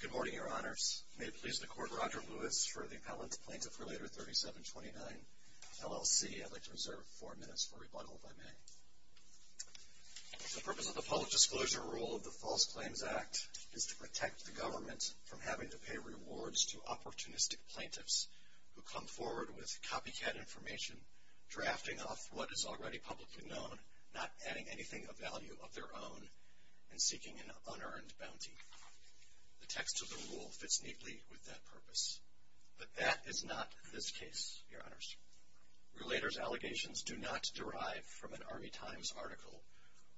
Good morning, Your Honors. May it please the Court, Roger Lewis for the Appellant Plaintiff Relator 3729, LLC. I'd like to reserve four minutes for rebuttal if I may. The purpose of the Public Disclosure Rule of the False Claims Act is to protect the government from having to pay rewards to opportunistic plaintiffs who come forward with copycat information drafting off what is already publicly known, not adding anything of value of their own, and seeking an unearned bounty. The text of the rule fits neatly with that purpose. But that is not this case, Your Honors. Relators' allegations do not derive from an Army Times article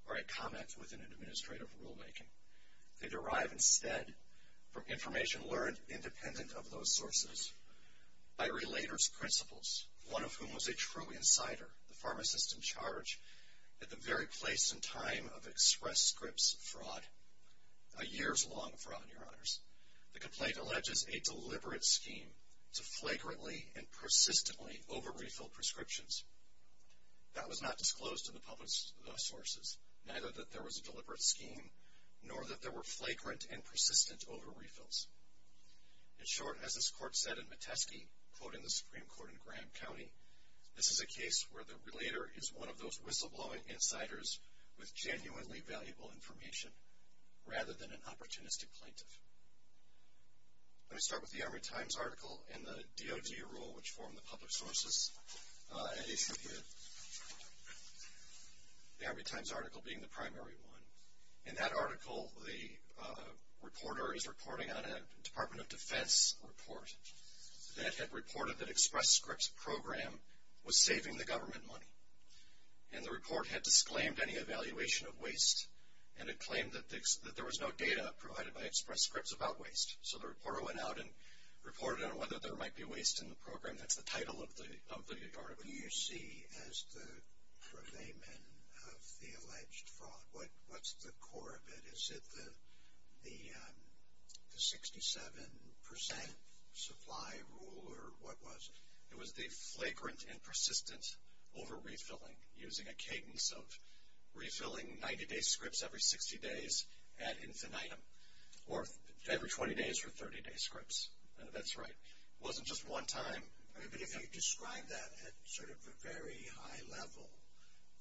or a comment within an administrative rulemaking. They derive instead from information learned independent of those sources by relators' principals, one of whom was a true insider, the pharmacist in charge, at the very place and time of express scripts fraud. A years-long fraud, Your Honors. The complaint alleges a deliberate scheme to flagrantly and persistently over-refill prescriptions. That was not disclosed to the public sources, neither that there In short, as this Court said in Metesky, quoting the Supreme Court in Graham County, this is a case where the relator is one of those whistleblowing insiders with genuinely valuable information, rather than an opportunistic plaintiff. Let me start with the Army Times article and the DoD rule, which form the public sources, and issue the Army Times article being the primary one. In that article, the reporter is reporting on a Department of Defense report that had reported that express scripts program was saving the government money. And the report had disclaimed any evaluation of waste, and it claimed that there was no data provided by express scripts about waste. So the reporter went out and reported on whether there might be waste in the program. That's the title of the article. What do you see as the purveyment of the alleged fraud? What's the core of it? Is it the 67% supply rule, or what was it? It was the flagrant and persistent over-refilling, using a cadence of refilling 90-day scripts every 60 days ad infinitum, or every 20 days for 30-day scripts. That's right. It wasn't just one time. But if you describe that at sort of a very high level,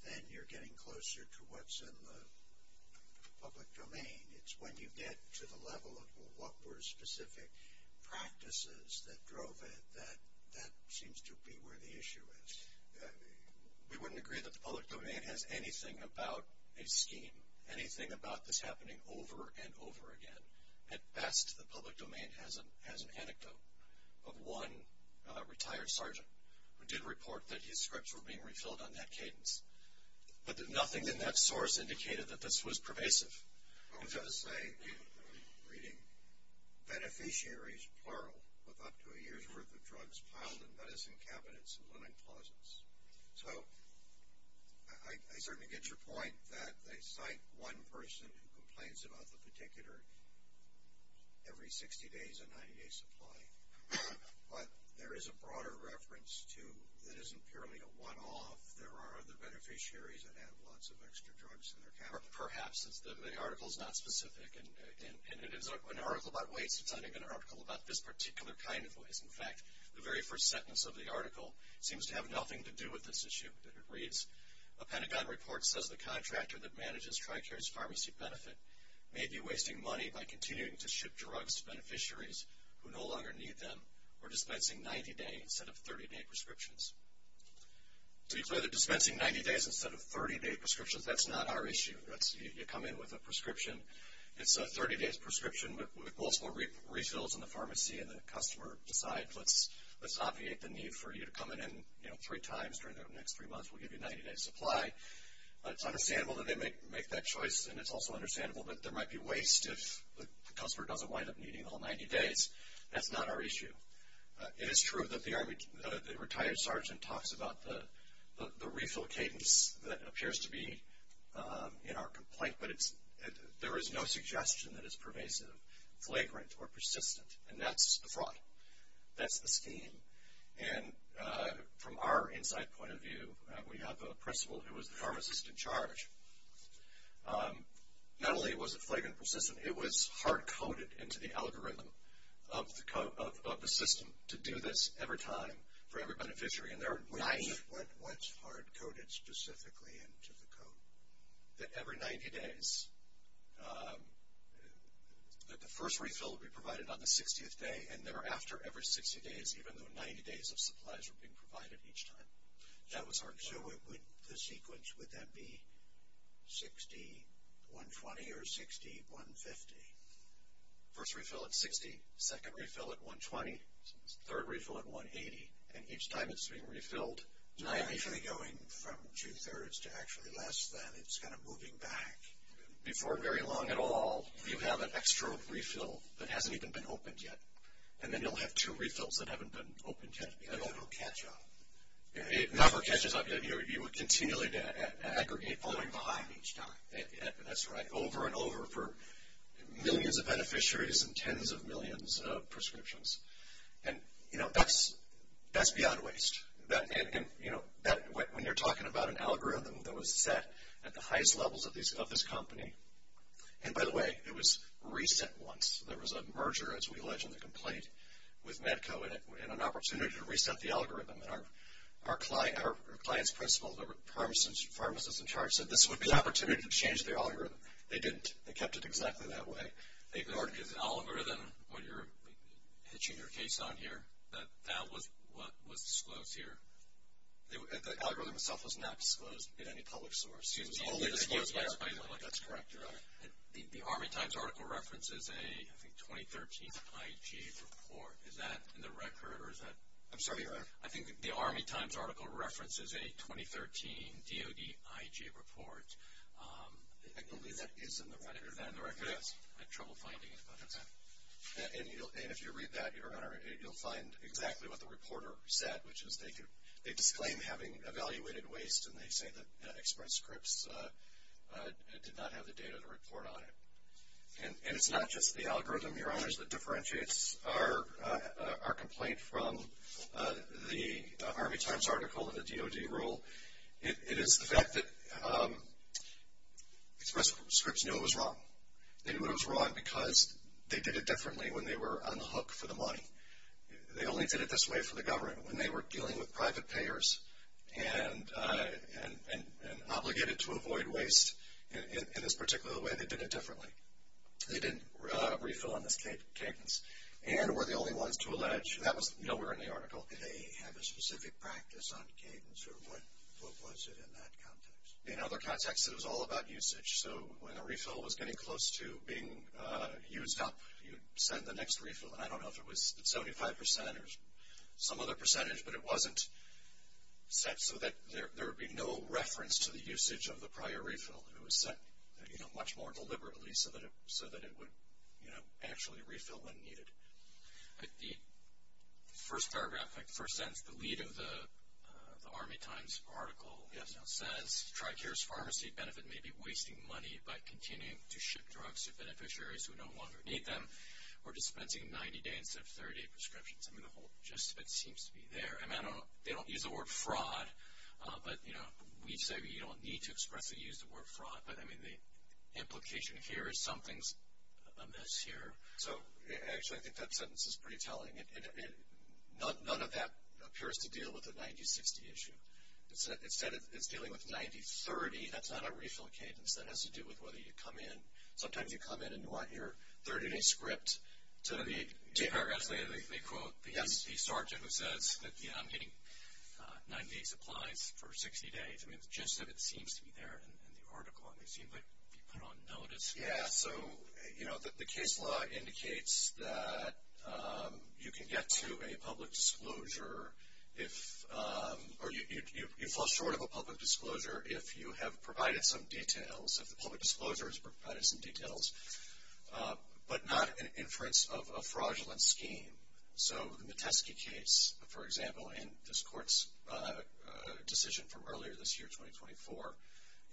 then you're getting closer to what's in the public domain. It's when you get to the level of what were specific practices that drove it that that seems to be where the issue is. We wouldn't agree that the public domain has anything about a scheme, anything about this of one retired sergeant who did report that his scripts were being refilled on that cadence. But nothing in that source indicated that this was pervasive. I was going to say, reading beneficiaries, plural, with up to a year's worth of drugs piled in medicine cabinets and living closets. So I certainly get your point that they cite one person who complains about the particular every 60 days, a 90-day supply. But there is a broader reference, too, that isn't purely a one-off. There are other beneficiaries that have lots of extra drugs in their cabinets. Or perhaps the article is not specific, and it is an article about waste. It's not even an article about this particular kind of waste. In fact, the very first sentence of the article seems to have nothing to do with this issue. It reads, a Pentagon report says the contractor that manages Tricare's pharmacy benefit may be wasting money by continuing to ship drugs to beneficiaries who no longer need them or dispensing 90-day instead of 30-day prescriptions. So you say they're dispensing 90 days instead of 30-day prescriptions. That's not our issue. You come in with a prescription. It's a 30-day prescription with multiple refills in the pharmacy, and the customer decides let's obviate the need for you to come in three times during the next three months. We'll give you a 90-day supply. It's understandable that they make that choice, and it's also understandable that there might be waste if the customer doesn't wind up needing all 90 days. That's not our issue. It is true that the retired sergeant talks about the refill cadence that appears to be in our complaint, but there is no suggestion that it's pervasive, flagrant, or persistent. And that's the fraud. That's the scheme. And from our inside point of view, we have a principal who was the pharmacist in charge. Not only was it flagrant and persistent, it was hard-coded into the algorithm of the system to do this every time for every beneficiary. What's hard-coded specifically into the code? That every 90 days, that the first refill would be provided on the 60th day, and thereafter, every 60 days, even though 90 days of supplies were being provided each time. That was hard-coded. So the sequence, would that be 60, 120, or 60, 150? First refill at 60, second refill at 120, third refill at 180. And each time it's being refilled, it's going from two-thirds to actually less than. It's kind of moving back. Before very long at all, you have an extra refill that hasn't even been opened yet, and then you'll have two refills that haven't been opened yet, and it'll catch up. It never catches up. You would continually aggregate falling behind each time. That's right. Over and over for millions of beneficiaries and tens of millions of prescriptions. And, you know, that's beyond waste. When you're talking about an algorithm that was set at the highest levels of this company, and by the way, it was reset once. There was a merger, as we allege in the complaint, with Medco, and an opportunity to reset the algorithm. And our client's principal, the pharmacist in charge, said this would be an opportunity to change the algorithm. They didn't. They kept it exactly that way. The algorithm, what you're hitching your case on here, that was what was disclosed here. The algorithm itself was not disclosed at any public source. Excuse me. The Army Times article references a, I think, 2013 IG report. Is that in the record, or is that? I'm sorry. I think the Army Times article references a 2013 DOD IG report. I believe that is in the record. Yes. I had trouble finding it, but that's it. And if you read that, Your Honor, you'll find exactly what the reporter said, which is they disclaim having evaluated waste, and they say that Express Scripts did not have the data to report on it. And it's not just the algorithm, Your Honors, that differentiates our complaint from the Army Times article and the DOD rule. It is the fact that Express Scripts knew it was wrong. They knew it was wrong because they did it differently when they were on the hook for the money. They only did it this way for the government. When they were dealing with private payers and obligated to avoid waste in this particular way, they did it differently. They didn't refill on this cadence. And we're the only ones to allege that was nowhere in the article. Did they have a specific practice on cadence, or what was it in that context? In other contexts, it was all about usage. So when a refill was getting close to being used up, you'd send the next refill. And I don't know if it was 75% or some other percentage, but it wasn't set so that there would be no reference to the usage of the prior refill. It was set much more deliberately so that it would actually refill when needed. The first paragraph, the first sentence, the lead of the Army Times article says, Tricare's Pharmacy Benefit may be wasting money by continuing to ship drugs to beneficiaries who no longer need them or dispensing 90-day instead of 30-day prescriptions. I mean, the whole gist of it seems to be there. They don't use the word fraud, but, you know, we say you don't need to expressly use the word fraud. But, I mean, the implication here is something's amiss here. So, actually, I think that sentence is pretty telling. None of that appears to deal with the 90-60 issue. Instead, it's dealing with 90-30. That's not a refill cadence. That has to do with whether you come in. Sometimes you come in and want your 30-day script. So the paragraph, they quote the sergeant who says that, you know, I'm getting 90 supplies for 60 days. I mean, the gist of it seems to be there in the article. And they seem to be put on notice. Yeah, so, you know, the case law indicates that you can get to a public disclosure if, or you fall short of a public disclosure if you have provided some details, if the public disclosure has provided some details, but not an inference of a fraudulent scheme. So in the Metesky case, for example, and this court's decision from earlier this year, 2024,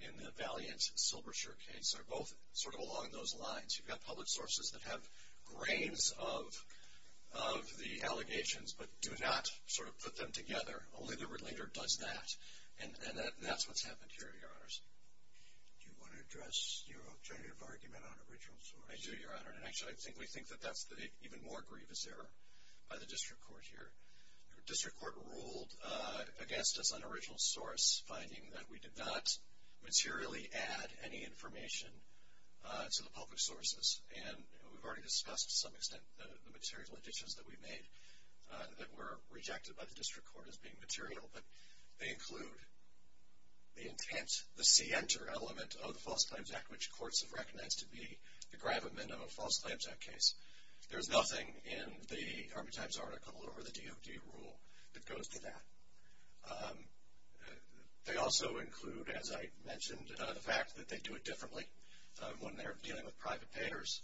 in the Valiant-Silbershire case are both sort of along those lines. You've got public sources that have grains of the allegations, but do not sort of put them together. Only the relator does that. And that's what's happened here, Your Honors. Do you want to address your alternative argument on original source? I do, Your Honor. And, actually, I think we think that that's the even more grievous error by the district court here. The district court ruled against us on original source, finding that we did not materially add any information to the public sources. And we've already discussed, to some extent, the material additions that we made that were rejected by the district court as being material. But they include the intent, the scienter element of the False Claims Act, which courts have recognized to be the gravamen of a False Claims Act case. There's nothing in the Army Times article or the DoD rule that goes to that. They also include, as I mentioned, the fact that they do it differently when they're dealing with private payers.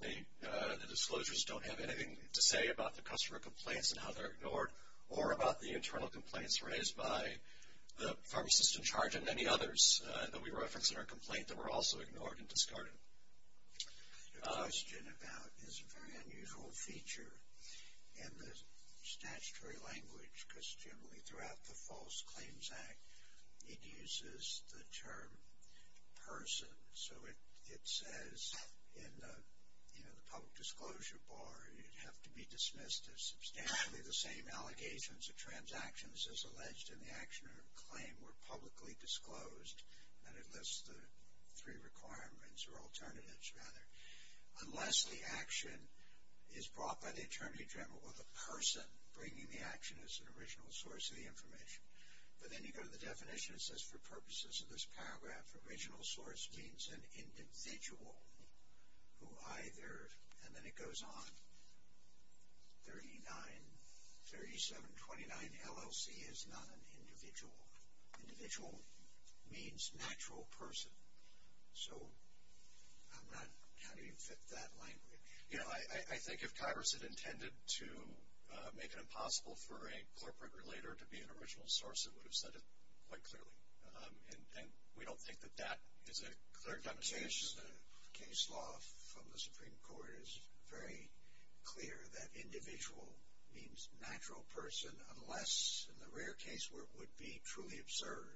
The disclosures don't have anything to say about the customer complaints and how they're ignored or about the internal complaints raised by the pharmacist in charge and many others that we referenced in our complaint that were also ignored and discarded. The question about is a very unusual feature in the statutory language, because generally throughout the False Claims Act, it uses the term person. So it says in the public disclosure bar, you'd have to be dismissed if substantially the same allegations or transactions as alleged in the action or claim were publicly disclosed, and it lists the three requirements or alternatives rather, unless the action is brought by the attorney general or the person bringing the action as an original source of the information. But then you go to the definition, it says for purposes of this paragraph, original source means an individual who either, and then it goes on, 3729 LLC is not an individual. Individual means natural person. So I'm not, how do you fit that language? You know, I think if Congress had intended to make it impossible for a corporate relator to be an original source, it would have said it quite clearly. And we don't think that that is a clear demonstration. The case law from the Supreme Court is very clear that individual means natural person, unless in the rare case where it would be truly absurd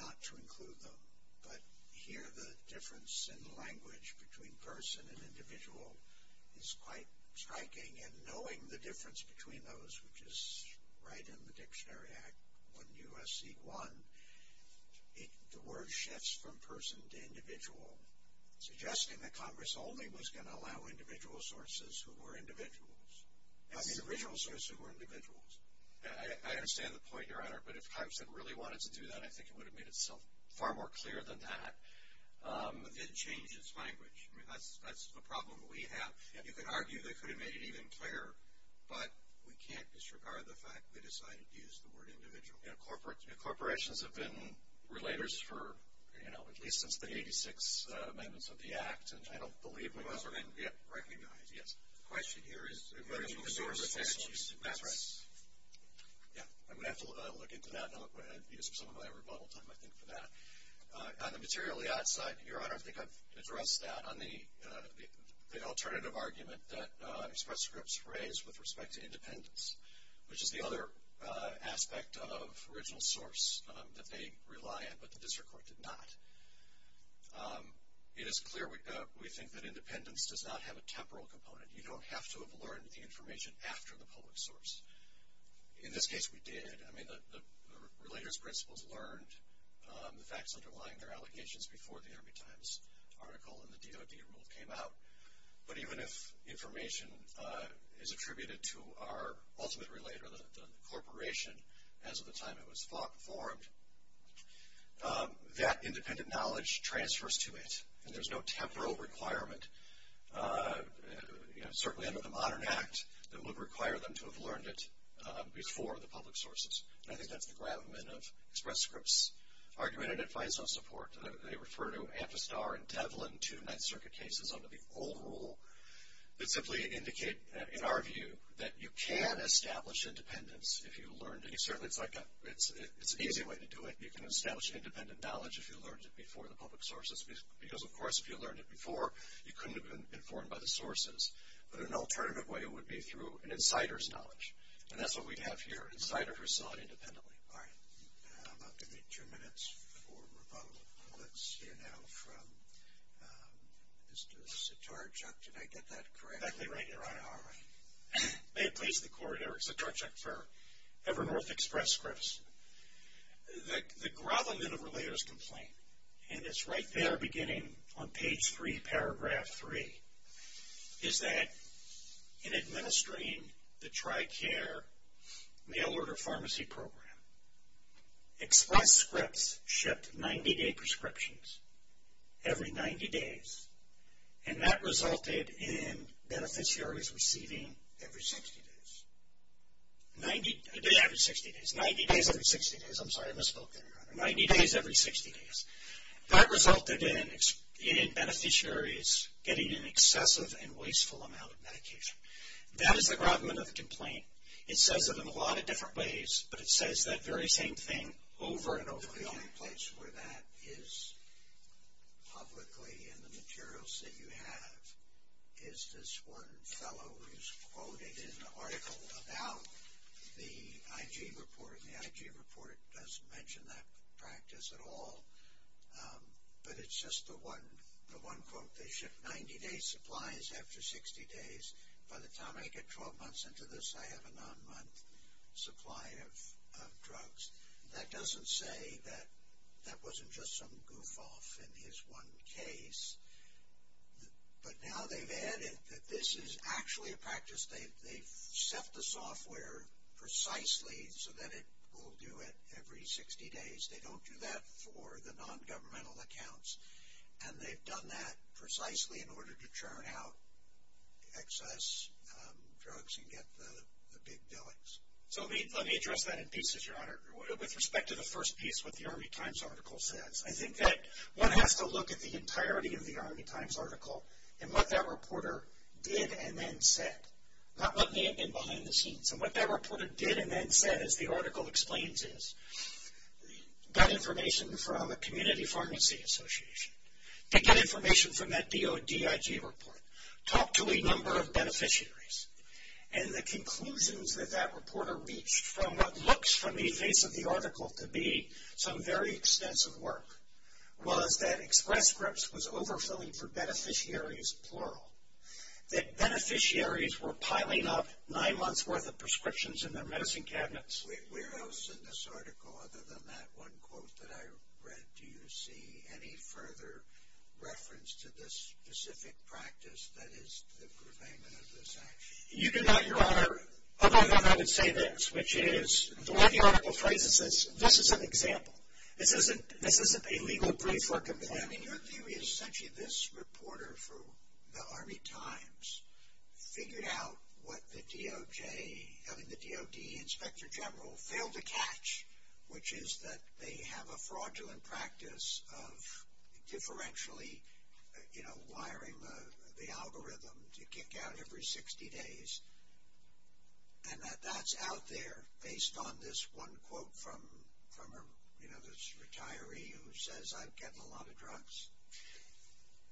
not to include them. But here the difference in language between person and individual is quite striking, and knowing the difference between those, which is right in the Dictionary Act, 1 U.S.C. 1, the word shifts from person to individual, suggesting that Congress only was going to allow individual sources who were individuals. I mean original sources who were individuals. I understand the point, Your Honor, but if Congress had really wanted to do that, I think it would have made itself far more clear than that. It changes language. I mean that's a problem we have. You could argue they could have made it even clearer, but we can't disregard the fact they decided to use the word individual. Corporations have been relators for, you know, at least since the 86th Amendments of the Act, and I don't believe we've ever been recognized. Yes. The question here is whether you endorse the statute. That's right. Yeah. I'm going to have to look into that, and I'm going to use some of my rebuttal time, I think, for that. On the materially odd side, Your Honor, I think I've addressed that on the alternative argument that express scripts raise with respect to independence, which is the other aspect of original source that they rely on, but the district court did not. It is clear we think that independence does not have a temporal component. You don't have to have learned the information after the public source. In this case, we did. I mean the relator's principles learned, the facts underlying their allegations before the Army Times article and the DOD rule came out. But even if information is attributed to our ultimate relator, the corporation, as of the time it was formed, that independent knowledge transfers to it, and there's no temporal requirement, certainly under the modern act that would require them to have learned it before the public sources. And I think that's the gravamen of express scripts argument, and it finds no support. They refer to Amphistar and Devlin, two Ninth Circuit cases under the old rule, that simply indicate, in our view, that you can establish independence if you learned it. Certainly, it's an easy way to do it. You can establish independent knowledge if you learned it before the public sources, because, of course, if you learned it before, you couldn't have been informed by the sources. But an alternative way would be through an insider's knowledge, and that's what we have here, an insider who saw it independently. All right. I'm going to give you two minutes for rebuttal. Let's hear now from Mr. Sitarchuk. Did I get that correctly? Exactly right. All right. May it please the Court, Eric Sitarchuk for Ever North Express Scripts. The gravamen of relator's complaint, and it's right there beginning on page 3, paragraph 3, is that in administering the TRICARE mail order pharmacy program, Express Scripts shipped 90-day prescriptions every 90 days, and that resulted in beneficiaries receiving every 60 days. A day every 60 days. 90 days every 60 days. I'm sorry. I misspoke there. 90 days every 60 days. That resulted in beneficiaries getting an excessive and wasteful amount of medication. That is the gravamen of the complaint. It says it in a lot of different ways, but it says that very same thing over and over again. The only place where that is publicly in the materials that you have is this one fellow who's quoted in an article about the IG report, and the IG report doesn't mention that practice at all, but it's just the one quote. They ship 90-day supplies after 60 days. By the time I get 12 months into this, I have a non-month supply of drugs. That doesn't say that that wasn't just some goof-off in his one case, but now they've added that this is actually a practice. They've set the software precisely so that it will do it every 60 days. They don't do that for the non-governmental accounts, and they've done that precisely in order to churn out excess drugs and get the big billings. So let me address that in pieces, Your Honor. With respect to the first piece, what the Army Times article says, I think that one has to look at the entirety of the Army Times article and what that reporter did and then said, not what may have been behind the scenes. And what that reporter did and then said, as the article explains, is got information from a community pharmacy association. They get information from that DO-DIG report. Talked to a number of beneficiaries, and the conclusions that that reporter reached from what looks, from the face of the article, to be some very extensive work, was that Express Scripts was overfilling for beneficiaries, plural, that beneficiaries were piling up nine months' worth of prescriptions in their medicine cabinets. Where else in this article, other than that one quote that I read, do you see any further reference to this specific practice that is the purveyment of this action? You do not, Your Honor, other than that I would say this, which is the way the article phrases this, this is an example. This isn't a legal brief for a complainant. Your theory is essentially this reporter from the Army Times figured out what the DOJ, I mean the DOD Inspector General, failed to catch, which is that they have a fraudulent practice of differentially, you know, the algorithm to kick out every 60 days, and that that's out there based on this one quote from, you know, this retiree who says, I'm getting a lot of drugs.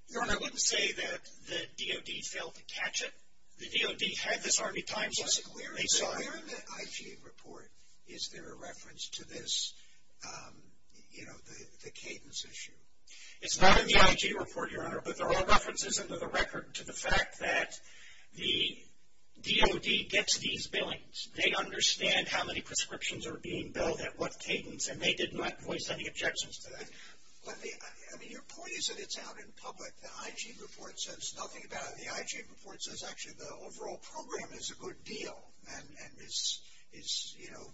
Your Honor, I wouldn't say that the DOD failed to catch it. The DOD had this Army Times, they saw it. But where in the IG report is there a reference to this, you know, the cadence issue? It's not in the IG report, Your Honor, but there are references under the record to the fact that the DOD gets these billings. They understand how many prescriptions are being billed at what cadence, and they did not voice any objections to that. Let me, I mean your point is that it's out in public. The IG report says nothing about it. The IG report says actually the overall program is a good deal, and is, you know,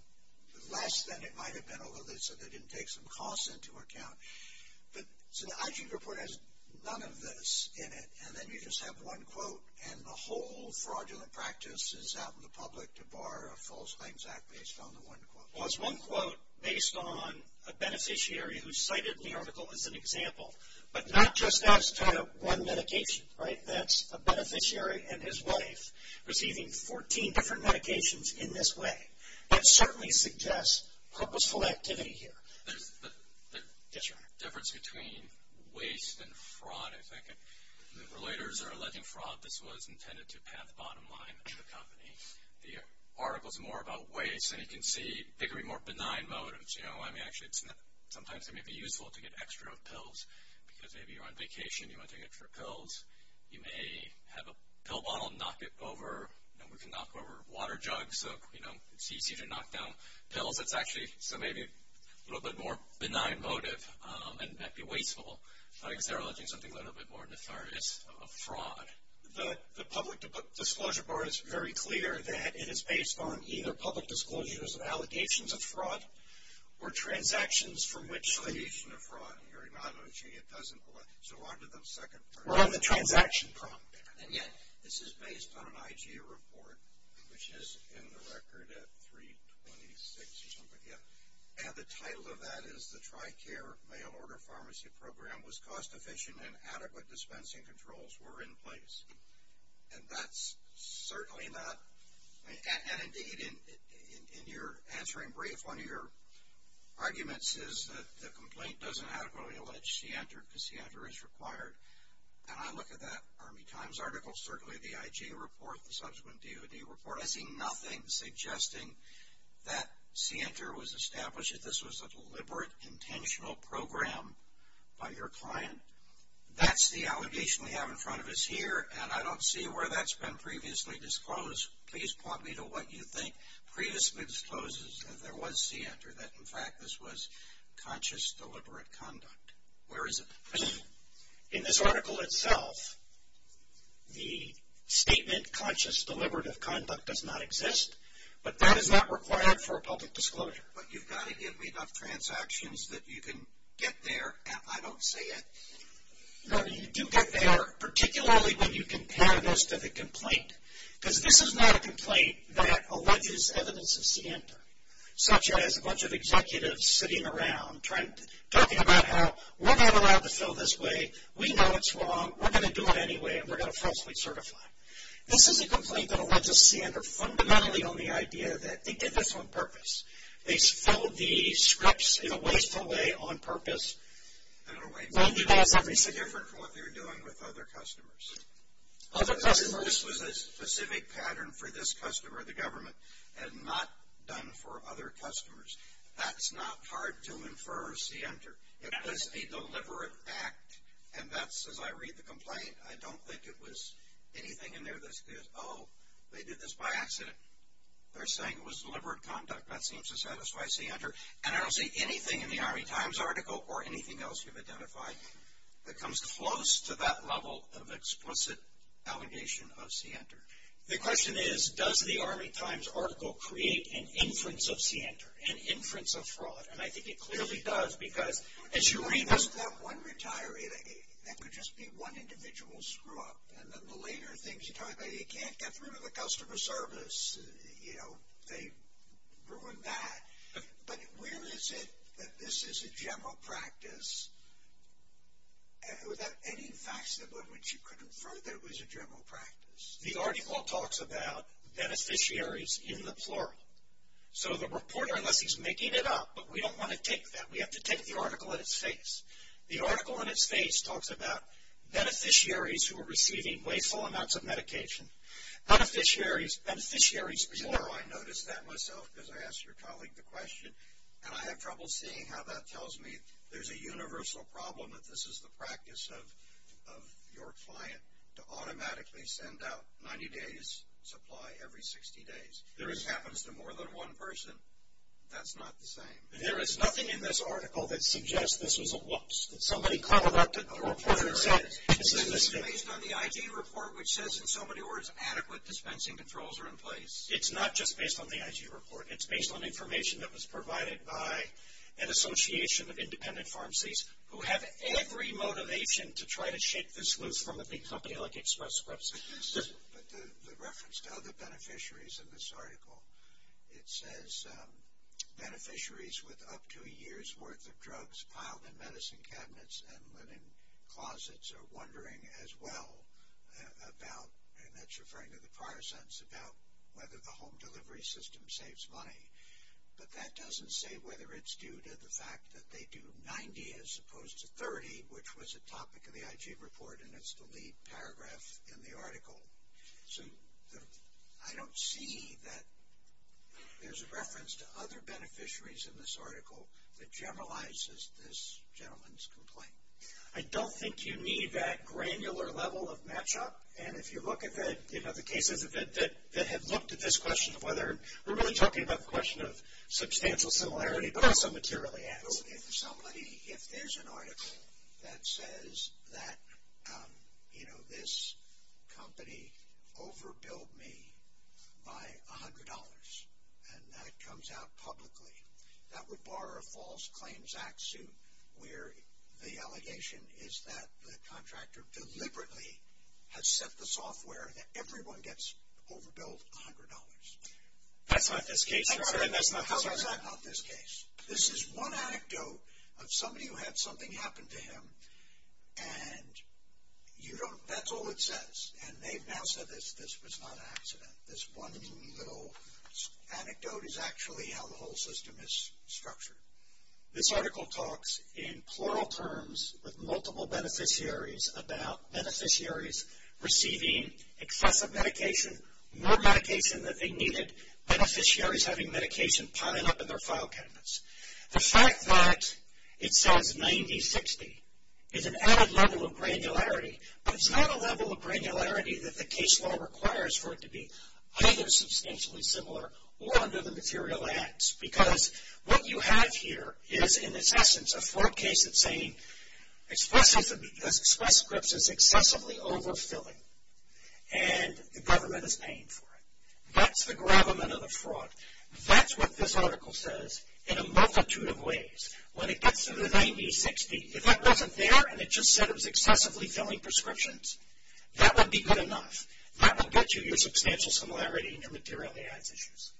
less than it might have been, although they said they didn't take some costs into account. But so the IG report has none of this in it, and then you just have one quote, and the whole fraudulent practice is out in the public to bar a false claims act based on the one quote. Well, it's one quote based on a beneficiary who cited the article as an example, but not just us trying to run medication, right? That's a beneficiary and his wife receiving 14 different medications in this way. That certainly suggests purposeful activity here. Yes, Your Honor. The difference between waste and fraud, if I could. The relators are alleging fraud. This was intended to pat the bottom line of the company. The article is more about waste, and you can see there could be more benign motives. You know, I mean, actually sometimes it may be useful to get extra pills because maybe you're on vacation and you want to take it for pills. You may have a pill bottle and knock it over. You know, we can knock over a water jug so, you know, it's easy to knock down pills. That's actually maybe a little bit more benign motive, and that'd be wasteful. I guess they're alleging something a little bit more nefarious of fraud. The public disclosure bar is very clear that it is based on either public disclosures of allegations of fraud or transactions from which the... Allegation of fraud. Your Honor, it doesn't... We'll have the transaction prompt there. And yet, this is based on an IG report, which is in the record at 326 something... And the title of that is the Tricare mail-order pharmacy program was cost efficient and adequate dispensing controls were in place. And that's certainly not... And indeed, in your answering brief, one of your arguments is that the complaint doesn't adequately allege scienter because scienter is required. And I look at that Army Times article, certainly the IG report, the subsequent DOD report, I see nothing suggesting that scienter was established, that this was a deliberate, intentional program by your client. That's the allegation we have in front of us here, and I don't see where that's been previously disclosed. Please point me to what you think previously discloses that there was scienter, that in fact this was conscious, deliberate conduct. Where is it? In this article itself, the statement conscious, deliberative conduct does not exist, but that is not required for a public disclosure. But you've got to give me enough transactions that you can get there. I don't see it. No, you do get there, particularly when you compare this to the complaint. Because this is not a complaint that alleges evidence of scienter, such as a bunch of executives sitting around, talking about how we're not allowed to fill this way. We know it's wrong. We're going to do it anyway, and we're going to falsely certify. This is a complaint that alleges scienter fundamentally on the idea that they did this on purpose. They filled the scripts in a wasteful way on purpose. I don't know why you mentioned that. It's different from what they were doing with other customers. Other customers? This was a specific pattern for this customer, the government, and not done for other customers. That's not hard to infer scienter. It was a deliberate act, and that's as I read the complaint. I don't think it was anything in there that says, oh, they did this by accident. They're saying it was deliberate conduct. That seems to satisfy scienter. And I don't see anything in the Army Times article or anything else you've identified that comes close to that level of explicit allegation of scienter. The question is, does the Army Times article create an inference of scienter, an inference of fraud? And I think it clearly does because as you read this. That one retiree, that could just be one individual screw-up. And then the later things you talk about, you can't get rid of the customer service. You know, they ruined that. But where is it that this is a general practice without any facts about it which you could infer that it was a general practice? The article talks about beneficiaries in the plural. So the reporter, unless he's making it up, but we don't want to take that. We have to take the article in its face. The article in its face talks about beneficiaries who are receiving wasteful amounts of medication. Beneficiaries, beneficiaries plural. You know, I noticed that myself because I asked your colleague the question, and I have trouble seeing how that tells me there's a universal problem that this is the practice of your client to automatically send out 90 days supply every 60 days. If this happens to more than one person, that's not the same. There is nothing in this article that suggests this was a whoops, that somebody collected the report themselves. This is based on the IG report which says in so many words adequate dispensing controls are in place. It's not just based on the IG report. It's based on information that was provided by an association of independent pharmacies who have every motivation to try to shake this loose from a big company like Express Press. But the reference to other beneficiaries in this article, it says beneficiaries with up to a year's worth of drugs piled in medicine cabinets and linen closets are wondering as well about, and that's referring to the paracetamol, about whether the home delivery system saves money. But that doesn't say whether it's due to the fact that they do 90 as opposed to 30, which was a topic of the IG report, and it's the lead paragraph in the article. So I don't see that there's a reference to other beneficiaries in this article that generalizes this gentleman's complaint. I don't think you need that granular level of matchup, and if you look at the cases that have looked at this question of whether, we're really talking about the question of substantial similarity, but it's a material answer. If somebody, if there's an article that says that, you know, this company overbilled me by $100 and that comes out publicly, that would bar a false claims act suit where the allegation is that the contractor deliberately has set the software that everyone gets overbilled $100. That's not this case, sir. How is that not this case? This is one anecdote of somebody who had something happen to him, and you don't, that's all it says. And they've now said that this was not an accident. This one little anecdote is actually how the whole system is structured. This article talks in plural terms with multiple beneficiaries about beneficiaries receiving excessive medication, more medication than they needed, beneficiaries having medication piling up in their file cabinets. The fact that it says 90-60 is an added level of granularity, but it's not a level of granularity that the case law requires for it to be either substantially similar or under the material ads, because what you have here is, in its essence, a fraud case that's saying Express Scripts is excessively overfilling, and the government is paying for it. That's the gravamen of the fraud. That's what this article says in a multitude of ways. When it gets to the 90-60, if that wasn't there and it just said it was excessively filling prescriptions, that would be good enough. That would get you your substantial similarity and your material ads issues.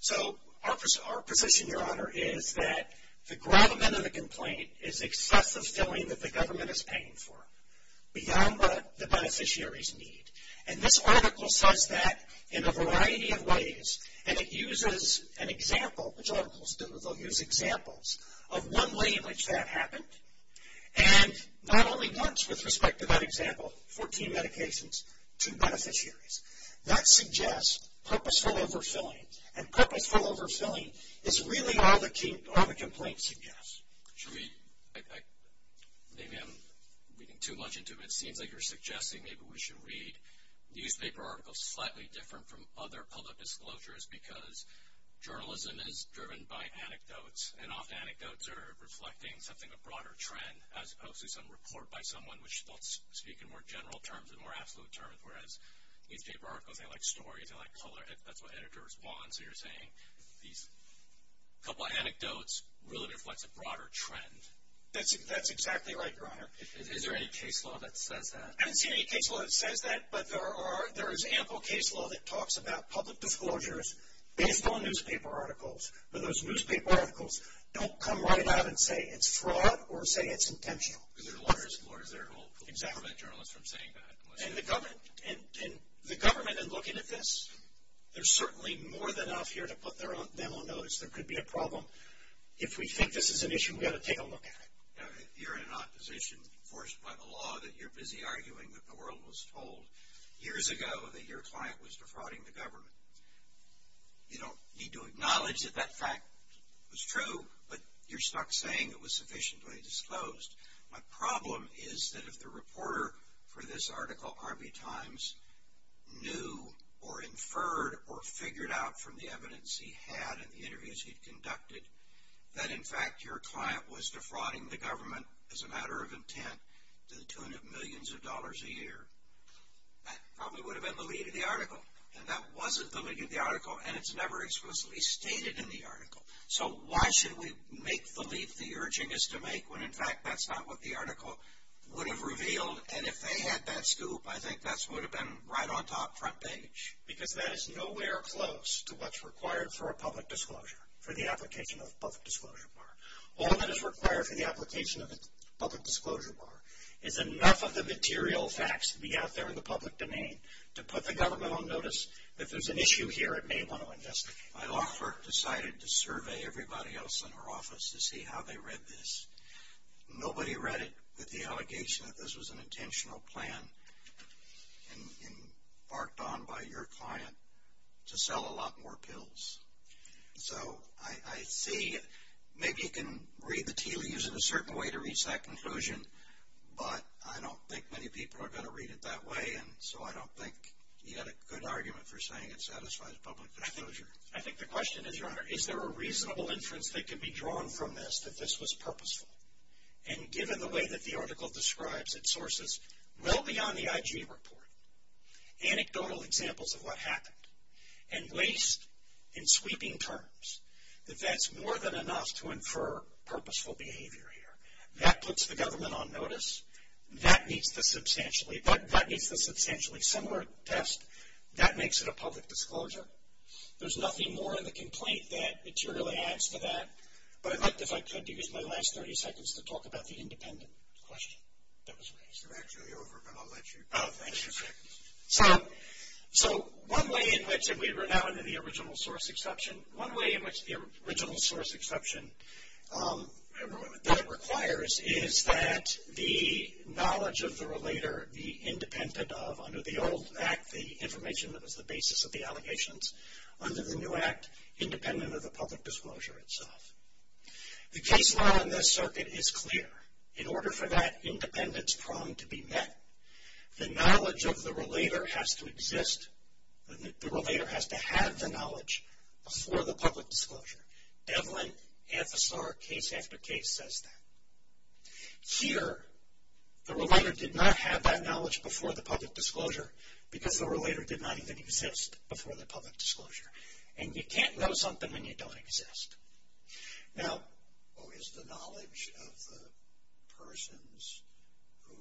So our position, Your Honor, is that the gravamen of the complaint is excessive filling that the government is paying for, beyond what the beneficiaries need. And this article says that in a variety of ways, and it uses an example, which articles do, they'll use examples, of one way in which that happened. And not only once with respect to that example, 14 medications, 2 beneficiaries. That suggests purposeful overfilling, and purposeful overfilling is really all the complaint suggests. Maybe I'm reading too much into it. It seems like you're suggesting maybe we should read newspaper articles slightly different from other public disclosures because journalism is driven by anecdotes, and often anecdotes are reflecting something, a broader trend, as opposed to some report by someone which they'll speak in more general terms and more absolute terms, whereas newspaper articles, they like stories, they like color, that's what editors want. So you're saying these couple of anecdotes really reflects a broader trend. That's exactly right, Your Honor. Is there any case law that says that? I haven't seen any case law that says that, but there is ample case law that talks about public disclosures based on newspaper articles. But those newspaper articles don't come right out and say it's fraud or say it's intentional. Because there are lawyers who are there who will prevent journalists from saying that. And the government in looking at this, there's certainly more than enough here to put them on notice. There could be a problem. If we think this is an issue, we ought to take a look at it. You're in an opposition forced by the law that you're busy arguing that the world was told years ago that your client was defrauding the government. You don't need to acknowledge that that fact was true, but you're stuck saying it was sufficiently disclosed. My problem is that if the reporter for this article, Arby Times, knew or inferred or figured out from the evidence he had and the interviews he'd conducted that in fact your client was defrauding the government as a matter of intent to the tune of millions of dollars a year, that probably would have been the lead of the article. And that wasn't the lead of the article, and it's never explicitly stated in the article. So why should we make the leap the urging is to make when in fact that's not what the article would have revealed? And if they had that scoop, I think that would have been right on top front page. Because that is nowhere close to what's required for a public disclosure, for the application of a public disclosure bar. All that is required for the application of a public disclosure bar is enough of the material facts to be out there in the public domain to put the government on notice. If there's an issue here, it may want to investigate. My law firm decided to survey everybody else in our office to see how they read this. Nobody read it with the allegation that this was an intentional plan and barked on by your client to sell a lot more pills. So I see maybe you can read the tea leaves in a certain way to reach that conclusion, but I don't think many people are going to read it that way, and so I don't think you had a good argument for saying it satisfies public disclosure. I think the question is, Your Honor, is there a reasonable inference that can be drawn from this that this was purposeful? And given the way that the article describes its sources, well beyond the IG report, anecdotal examples of what happened, and waste in sweeping terms, that that's more than enough to infer purposeful behavior here. That puts the government on notice. That meets the substantially similar test. That makes it a public disclosure. There's nothing more in the complaint that materially adds to that, but I'd like, if I could, to use my last 30 seconds to talk about the independent question that was raised. You're actually over, but I'll let you finish. So one way in which, and we're now into the original source exception. One way in which the original source exception, that it requires, is that the knowledge of the relator be independent of, under the old act, the information that was the basis of the allegations, under the new act, independent of the public disclosure itself. The case law in this circuit is clear. In order for that independence prong to be met, the knowledge of the relator has to exist, the relator has to have the knowledge before the public disclosure. Devlin, FSR, case after case says that. Here, the relator did not have that knowledge before the public disclosure, because the relator did not even exist before the public disclosure. And you can't know something when you don't exist. Now, is the knowledge of the persons who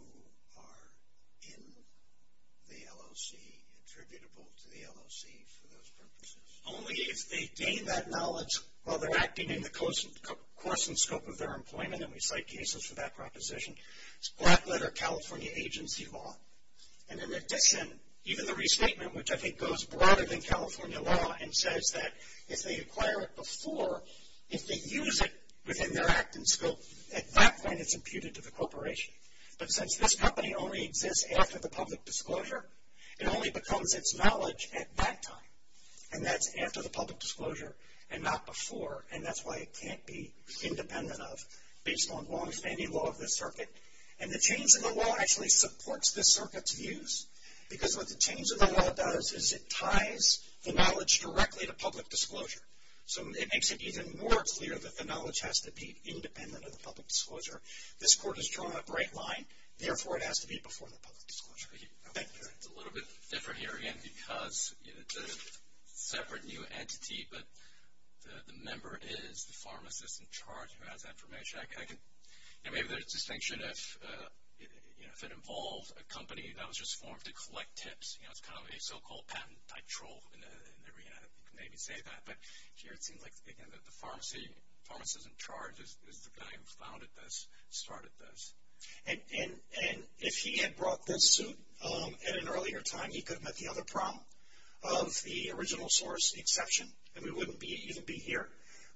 are in the LOC attributable to the LOC for those purposes? Only if they gain that knowledge while they're acting in the course and scope of their employment, and we cite cases for that proposition. It's black letter California agency law. And in addition, even the restatement, which I think goes broader than California law, and says that if they acquire it before, if they use it within their act and scope, at that point it's imputed to the corporation. But since this company only exists after the public disclosure, it only becomes its knowledge at that time. And that's after the public disclosure and not before, and that's why it can't be independent of based on long-standing law of this circuit. And the change in the law actually supports this circuit's views, because what the change in the law does is it ties the knowledge directly to public disclosure. So it makes it even more clear that the knowledge has to be independent of the public disclosure. This court has drawn a bright line, therefore it has to be before the public disclosure. Thank you. It's a little bit different here, again, because it's a separate new entity, but the member is the pharmacist in charge who has that information. Maybe there's a distinction if it involved a company that was just formed to collect tips. It's kind of a so-called patent-type troll in the arena. You can maybe say that, but here it seems like, again, that the pharmacist in charge is the guy who founded this, started this. And if he had brought this suit at an earlier time, he could have met the other problem of the original source exception, and we wouldn't even be here.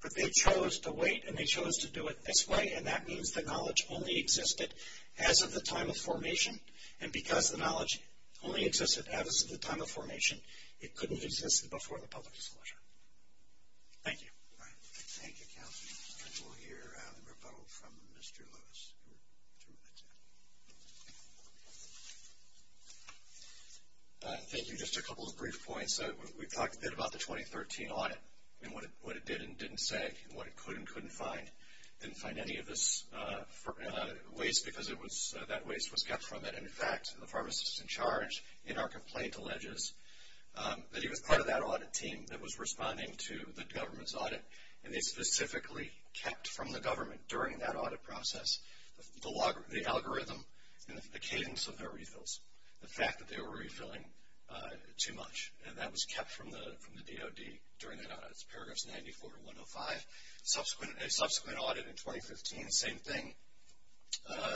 But they chose to wait, and they chose to do it this way, and that means the knowledge only existed as of the time of formation, and because the knowledge only existed as of the time of formation, it couldn't have existed before the public disclosure. Thank you. Thank you, counsel. We'll hear a rebuttal from Mr. Lewis in two minutes. Thank you. Just a couple of brief points. We talked a bit about the 2013 audit and what it did and didn't say and what it could and couldn't find. It didn't find any of this waste because that waste was kept from it. In fact, the pharmacist in charge in our complaint alleges that he was part of that audit team that was responding to the government's audit, and they specifically kept from the government during that audit process the algorithm and the cadence of their refills, the fact that they were refilling too much. And that was kept from the DOD during that audit. It's paragraphs 94 to 105. Subsequent audit in 2015, same thing.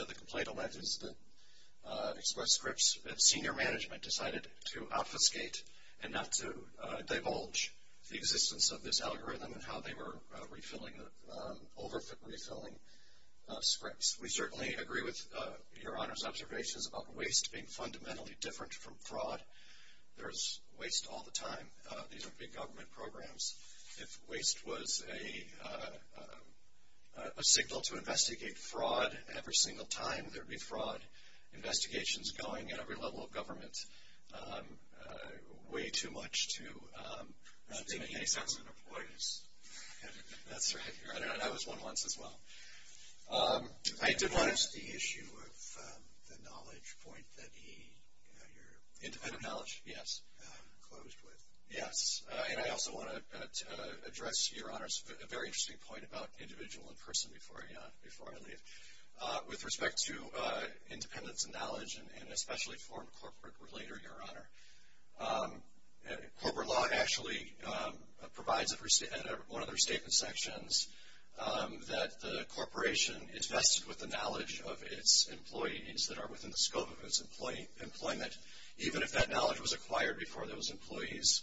The complaint alleges that Express Scripts Senior Management decided to obfuscate and not to divulge the existence of this algorithm and how they were over-refilling scripts. We certainly agree with Your Honor's observations about waste being fundamentally different from fraud. There's waste all the time. These are big government programs. If waste was a signal to investigate fraud every single time, there'd be fraud. Investigations going at every level of government way too much to make any sense. That's right, Your Honor, and I was one once as well. I did want to- What is the issue of the knowledge point that he, your- Independent knowledge, yes. Closed with. Yes, and I also want to address Your Honor's very interesting point about individual and person before I leave. With respect to independence and knowledge, and especially for a corporate relator, Your Honor, corporate law actually provides at one of the restatement sections that the corporation invested with the knowledge of its employees that are within the scope of its employment, even if that knowledge was acquired before those employees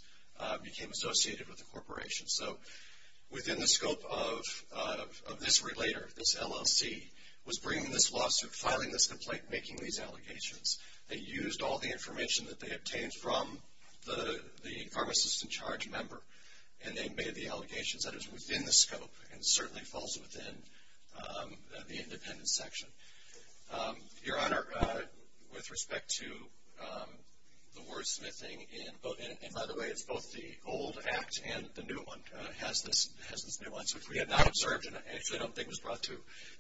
became associated with the corporation. So within the scope of this relator, this LLC, was bringing this lawsuit, filing this complaint, making these allegations. They used all the information that they obtained from the pharmacist-in-charge member, and they made the allegations that it was within the scope and certainly falls within the independence section. Your Honor, with respect to the wordsmithing in- and by the way, it's both the old act and the new one, has this new one. So if we had not observed, and I actually don't think it was brought to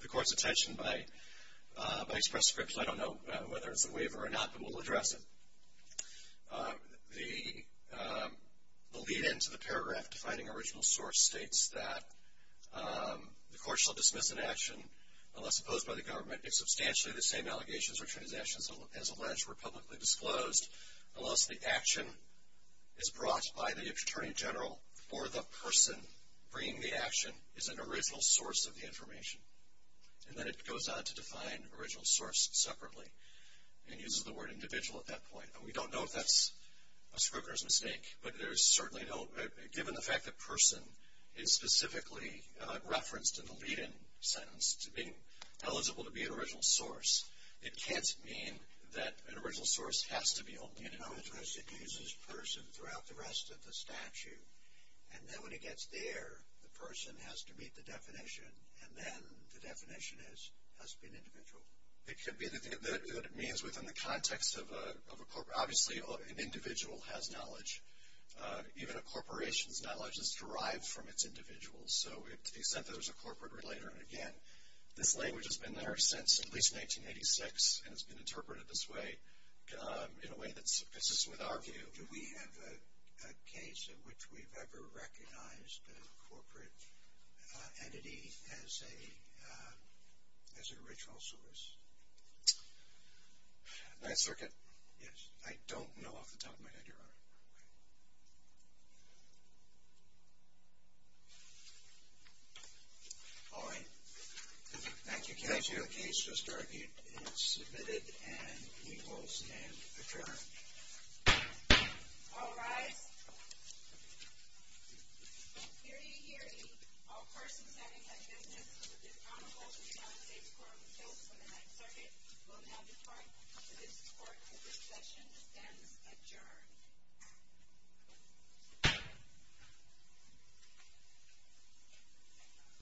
the Court's attention by express script, so I don't know whether it's a waiver or not, but we'll address it. The lead-in to the paragraph defining original source states that the Court shall dismiss an action unless opposed by the government if substantially the same allegations or accusations as alleged were publicly disclosed, unless the action is brought by the Attorney General or the person bringing the action is an original source of the information. And then it goes on to define original source separately and uses the word individual at that point. And we don't know if that's a scrupulous mistake, but there's certainly no- given the fact that person is specifically referenced in the lead-in sentence to being eligible to be an original source, it can't mean that an original source has to be only an individual. Because it uses person throughout the rest of the statute, and then when it gets there, the person has to meet the definition, and then the definition has to be an individual. It could be that it means within the context of a corp- obviously an individual has knowledge. Even a corporation's knowledge is derived from its individuals. So to the extent that there's a corporate relater, and again, this language has been there since at least 1986, and it's been interpreted this way in a way that's consistent with our view. So do we have a case in which we've ever recognized a corporate entity as an original source? Ninth Circuit? Yes. I don't know off the top of my head, Your Honor. All right. Thank you, counsel. The case just argued is submitted and we will stand adjourned. All rise. Hear ye, hear ye. All persons having had business with the accountable to the United States Court of Appeals for the Ninth Circuit will now depart for this court, and this session ends adjourned.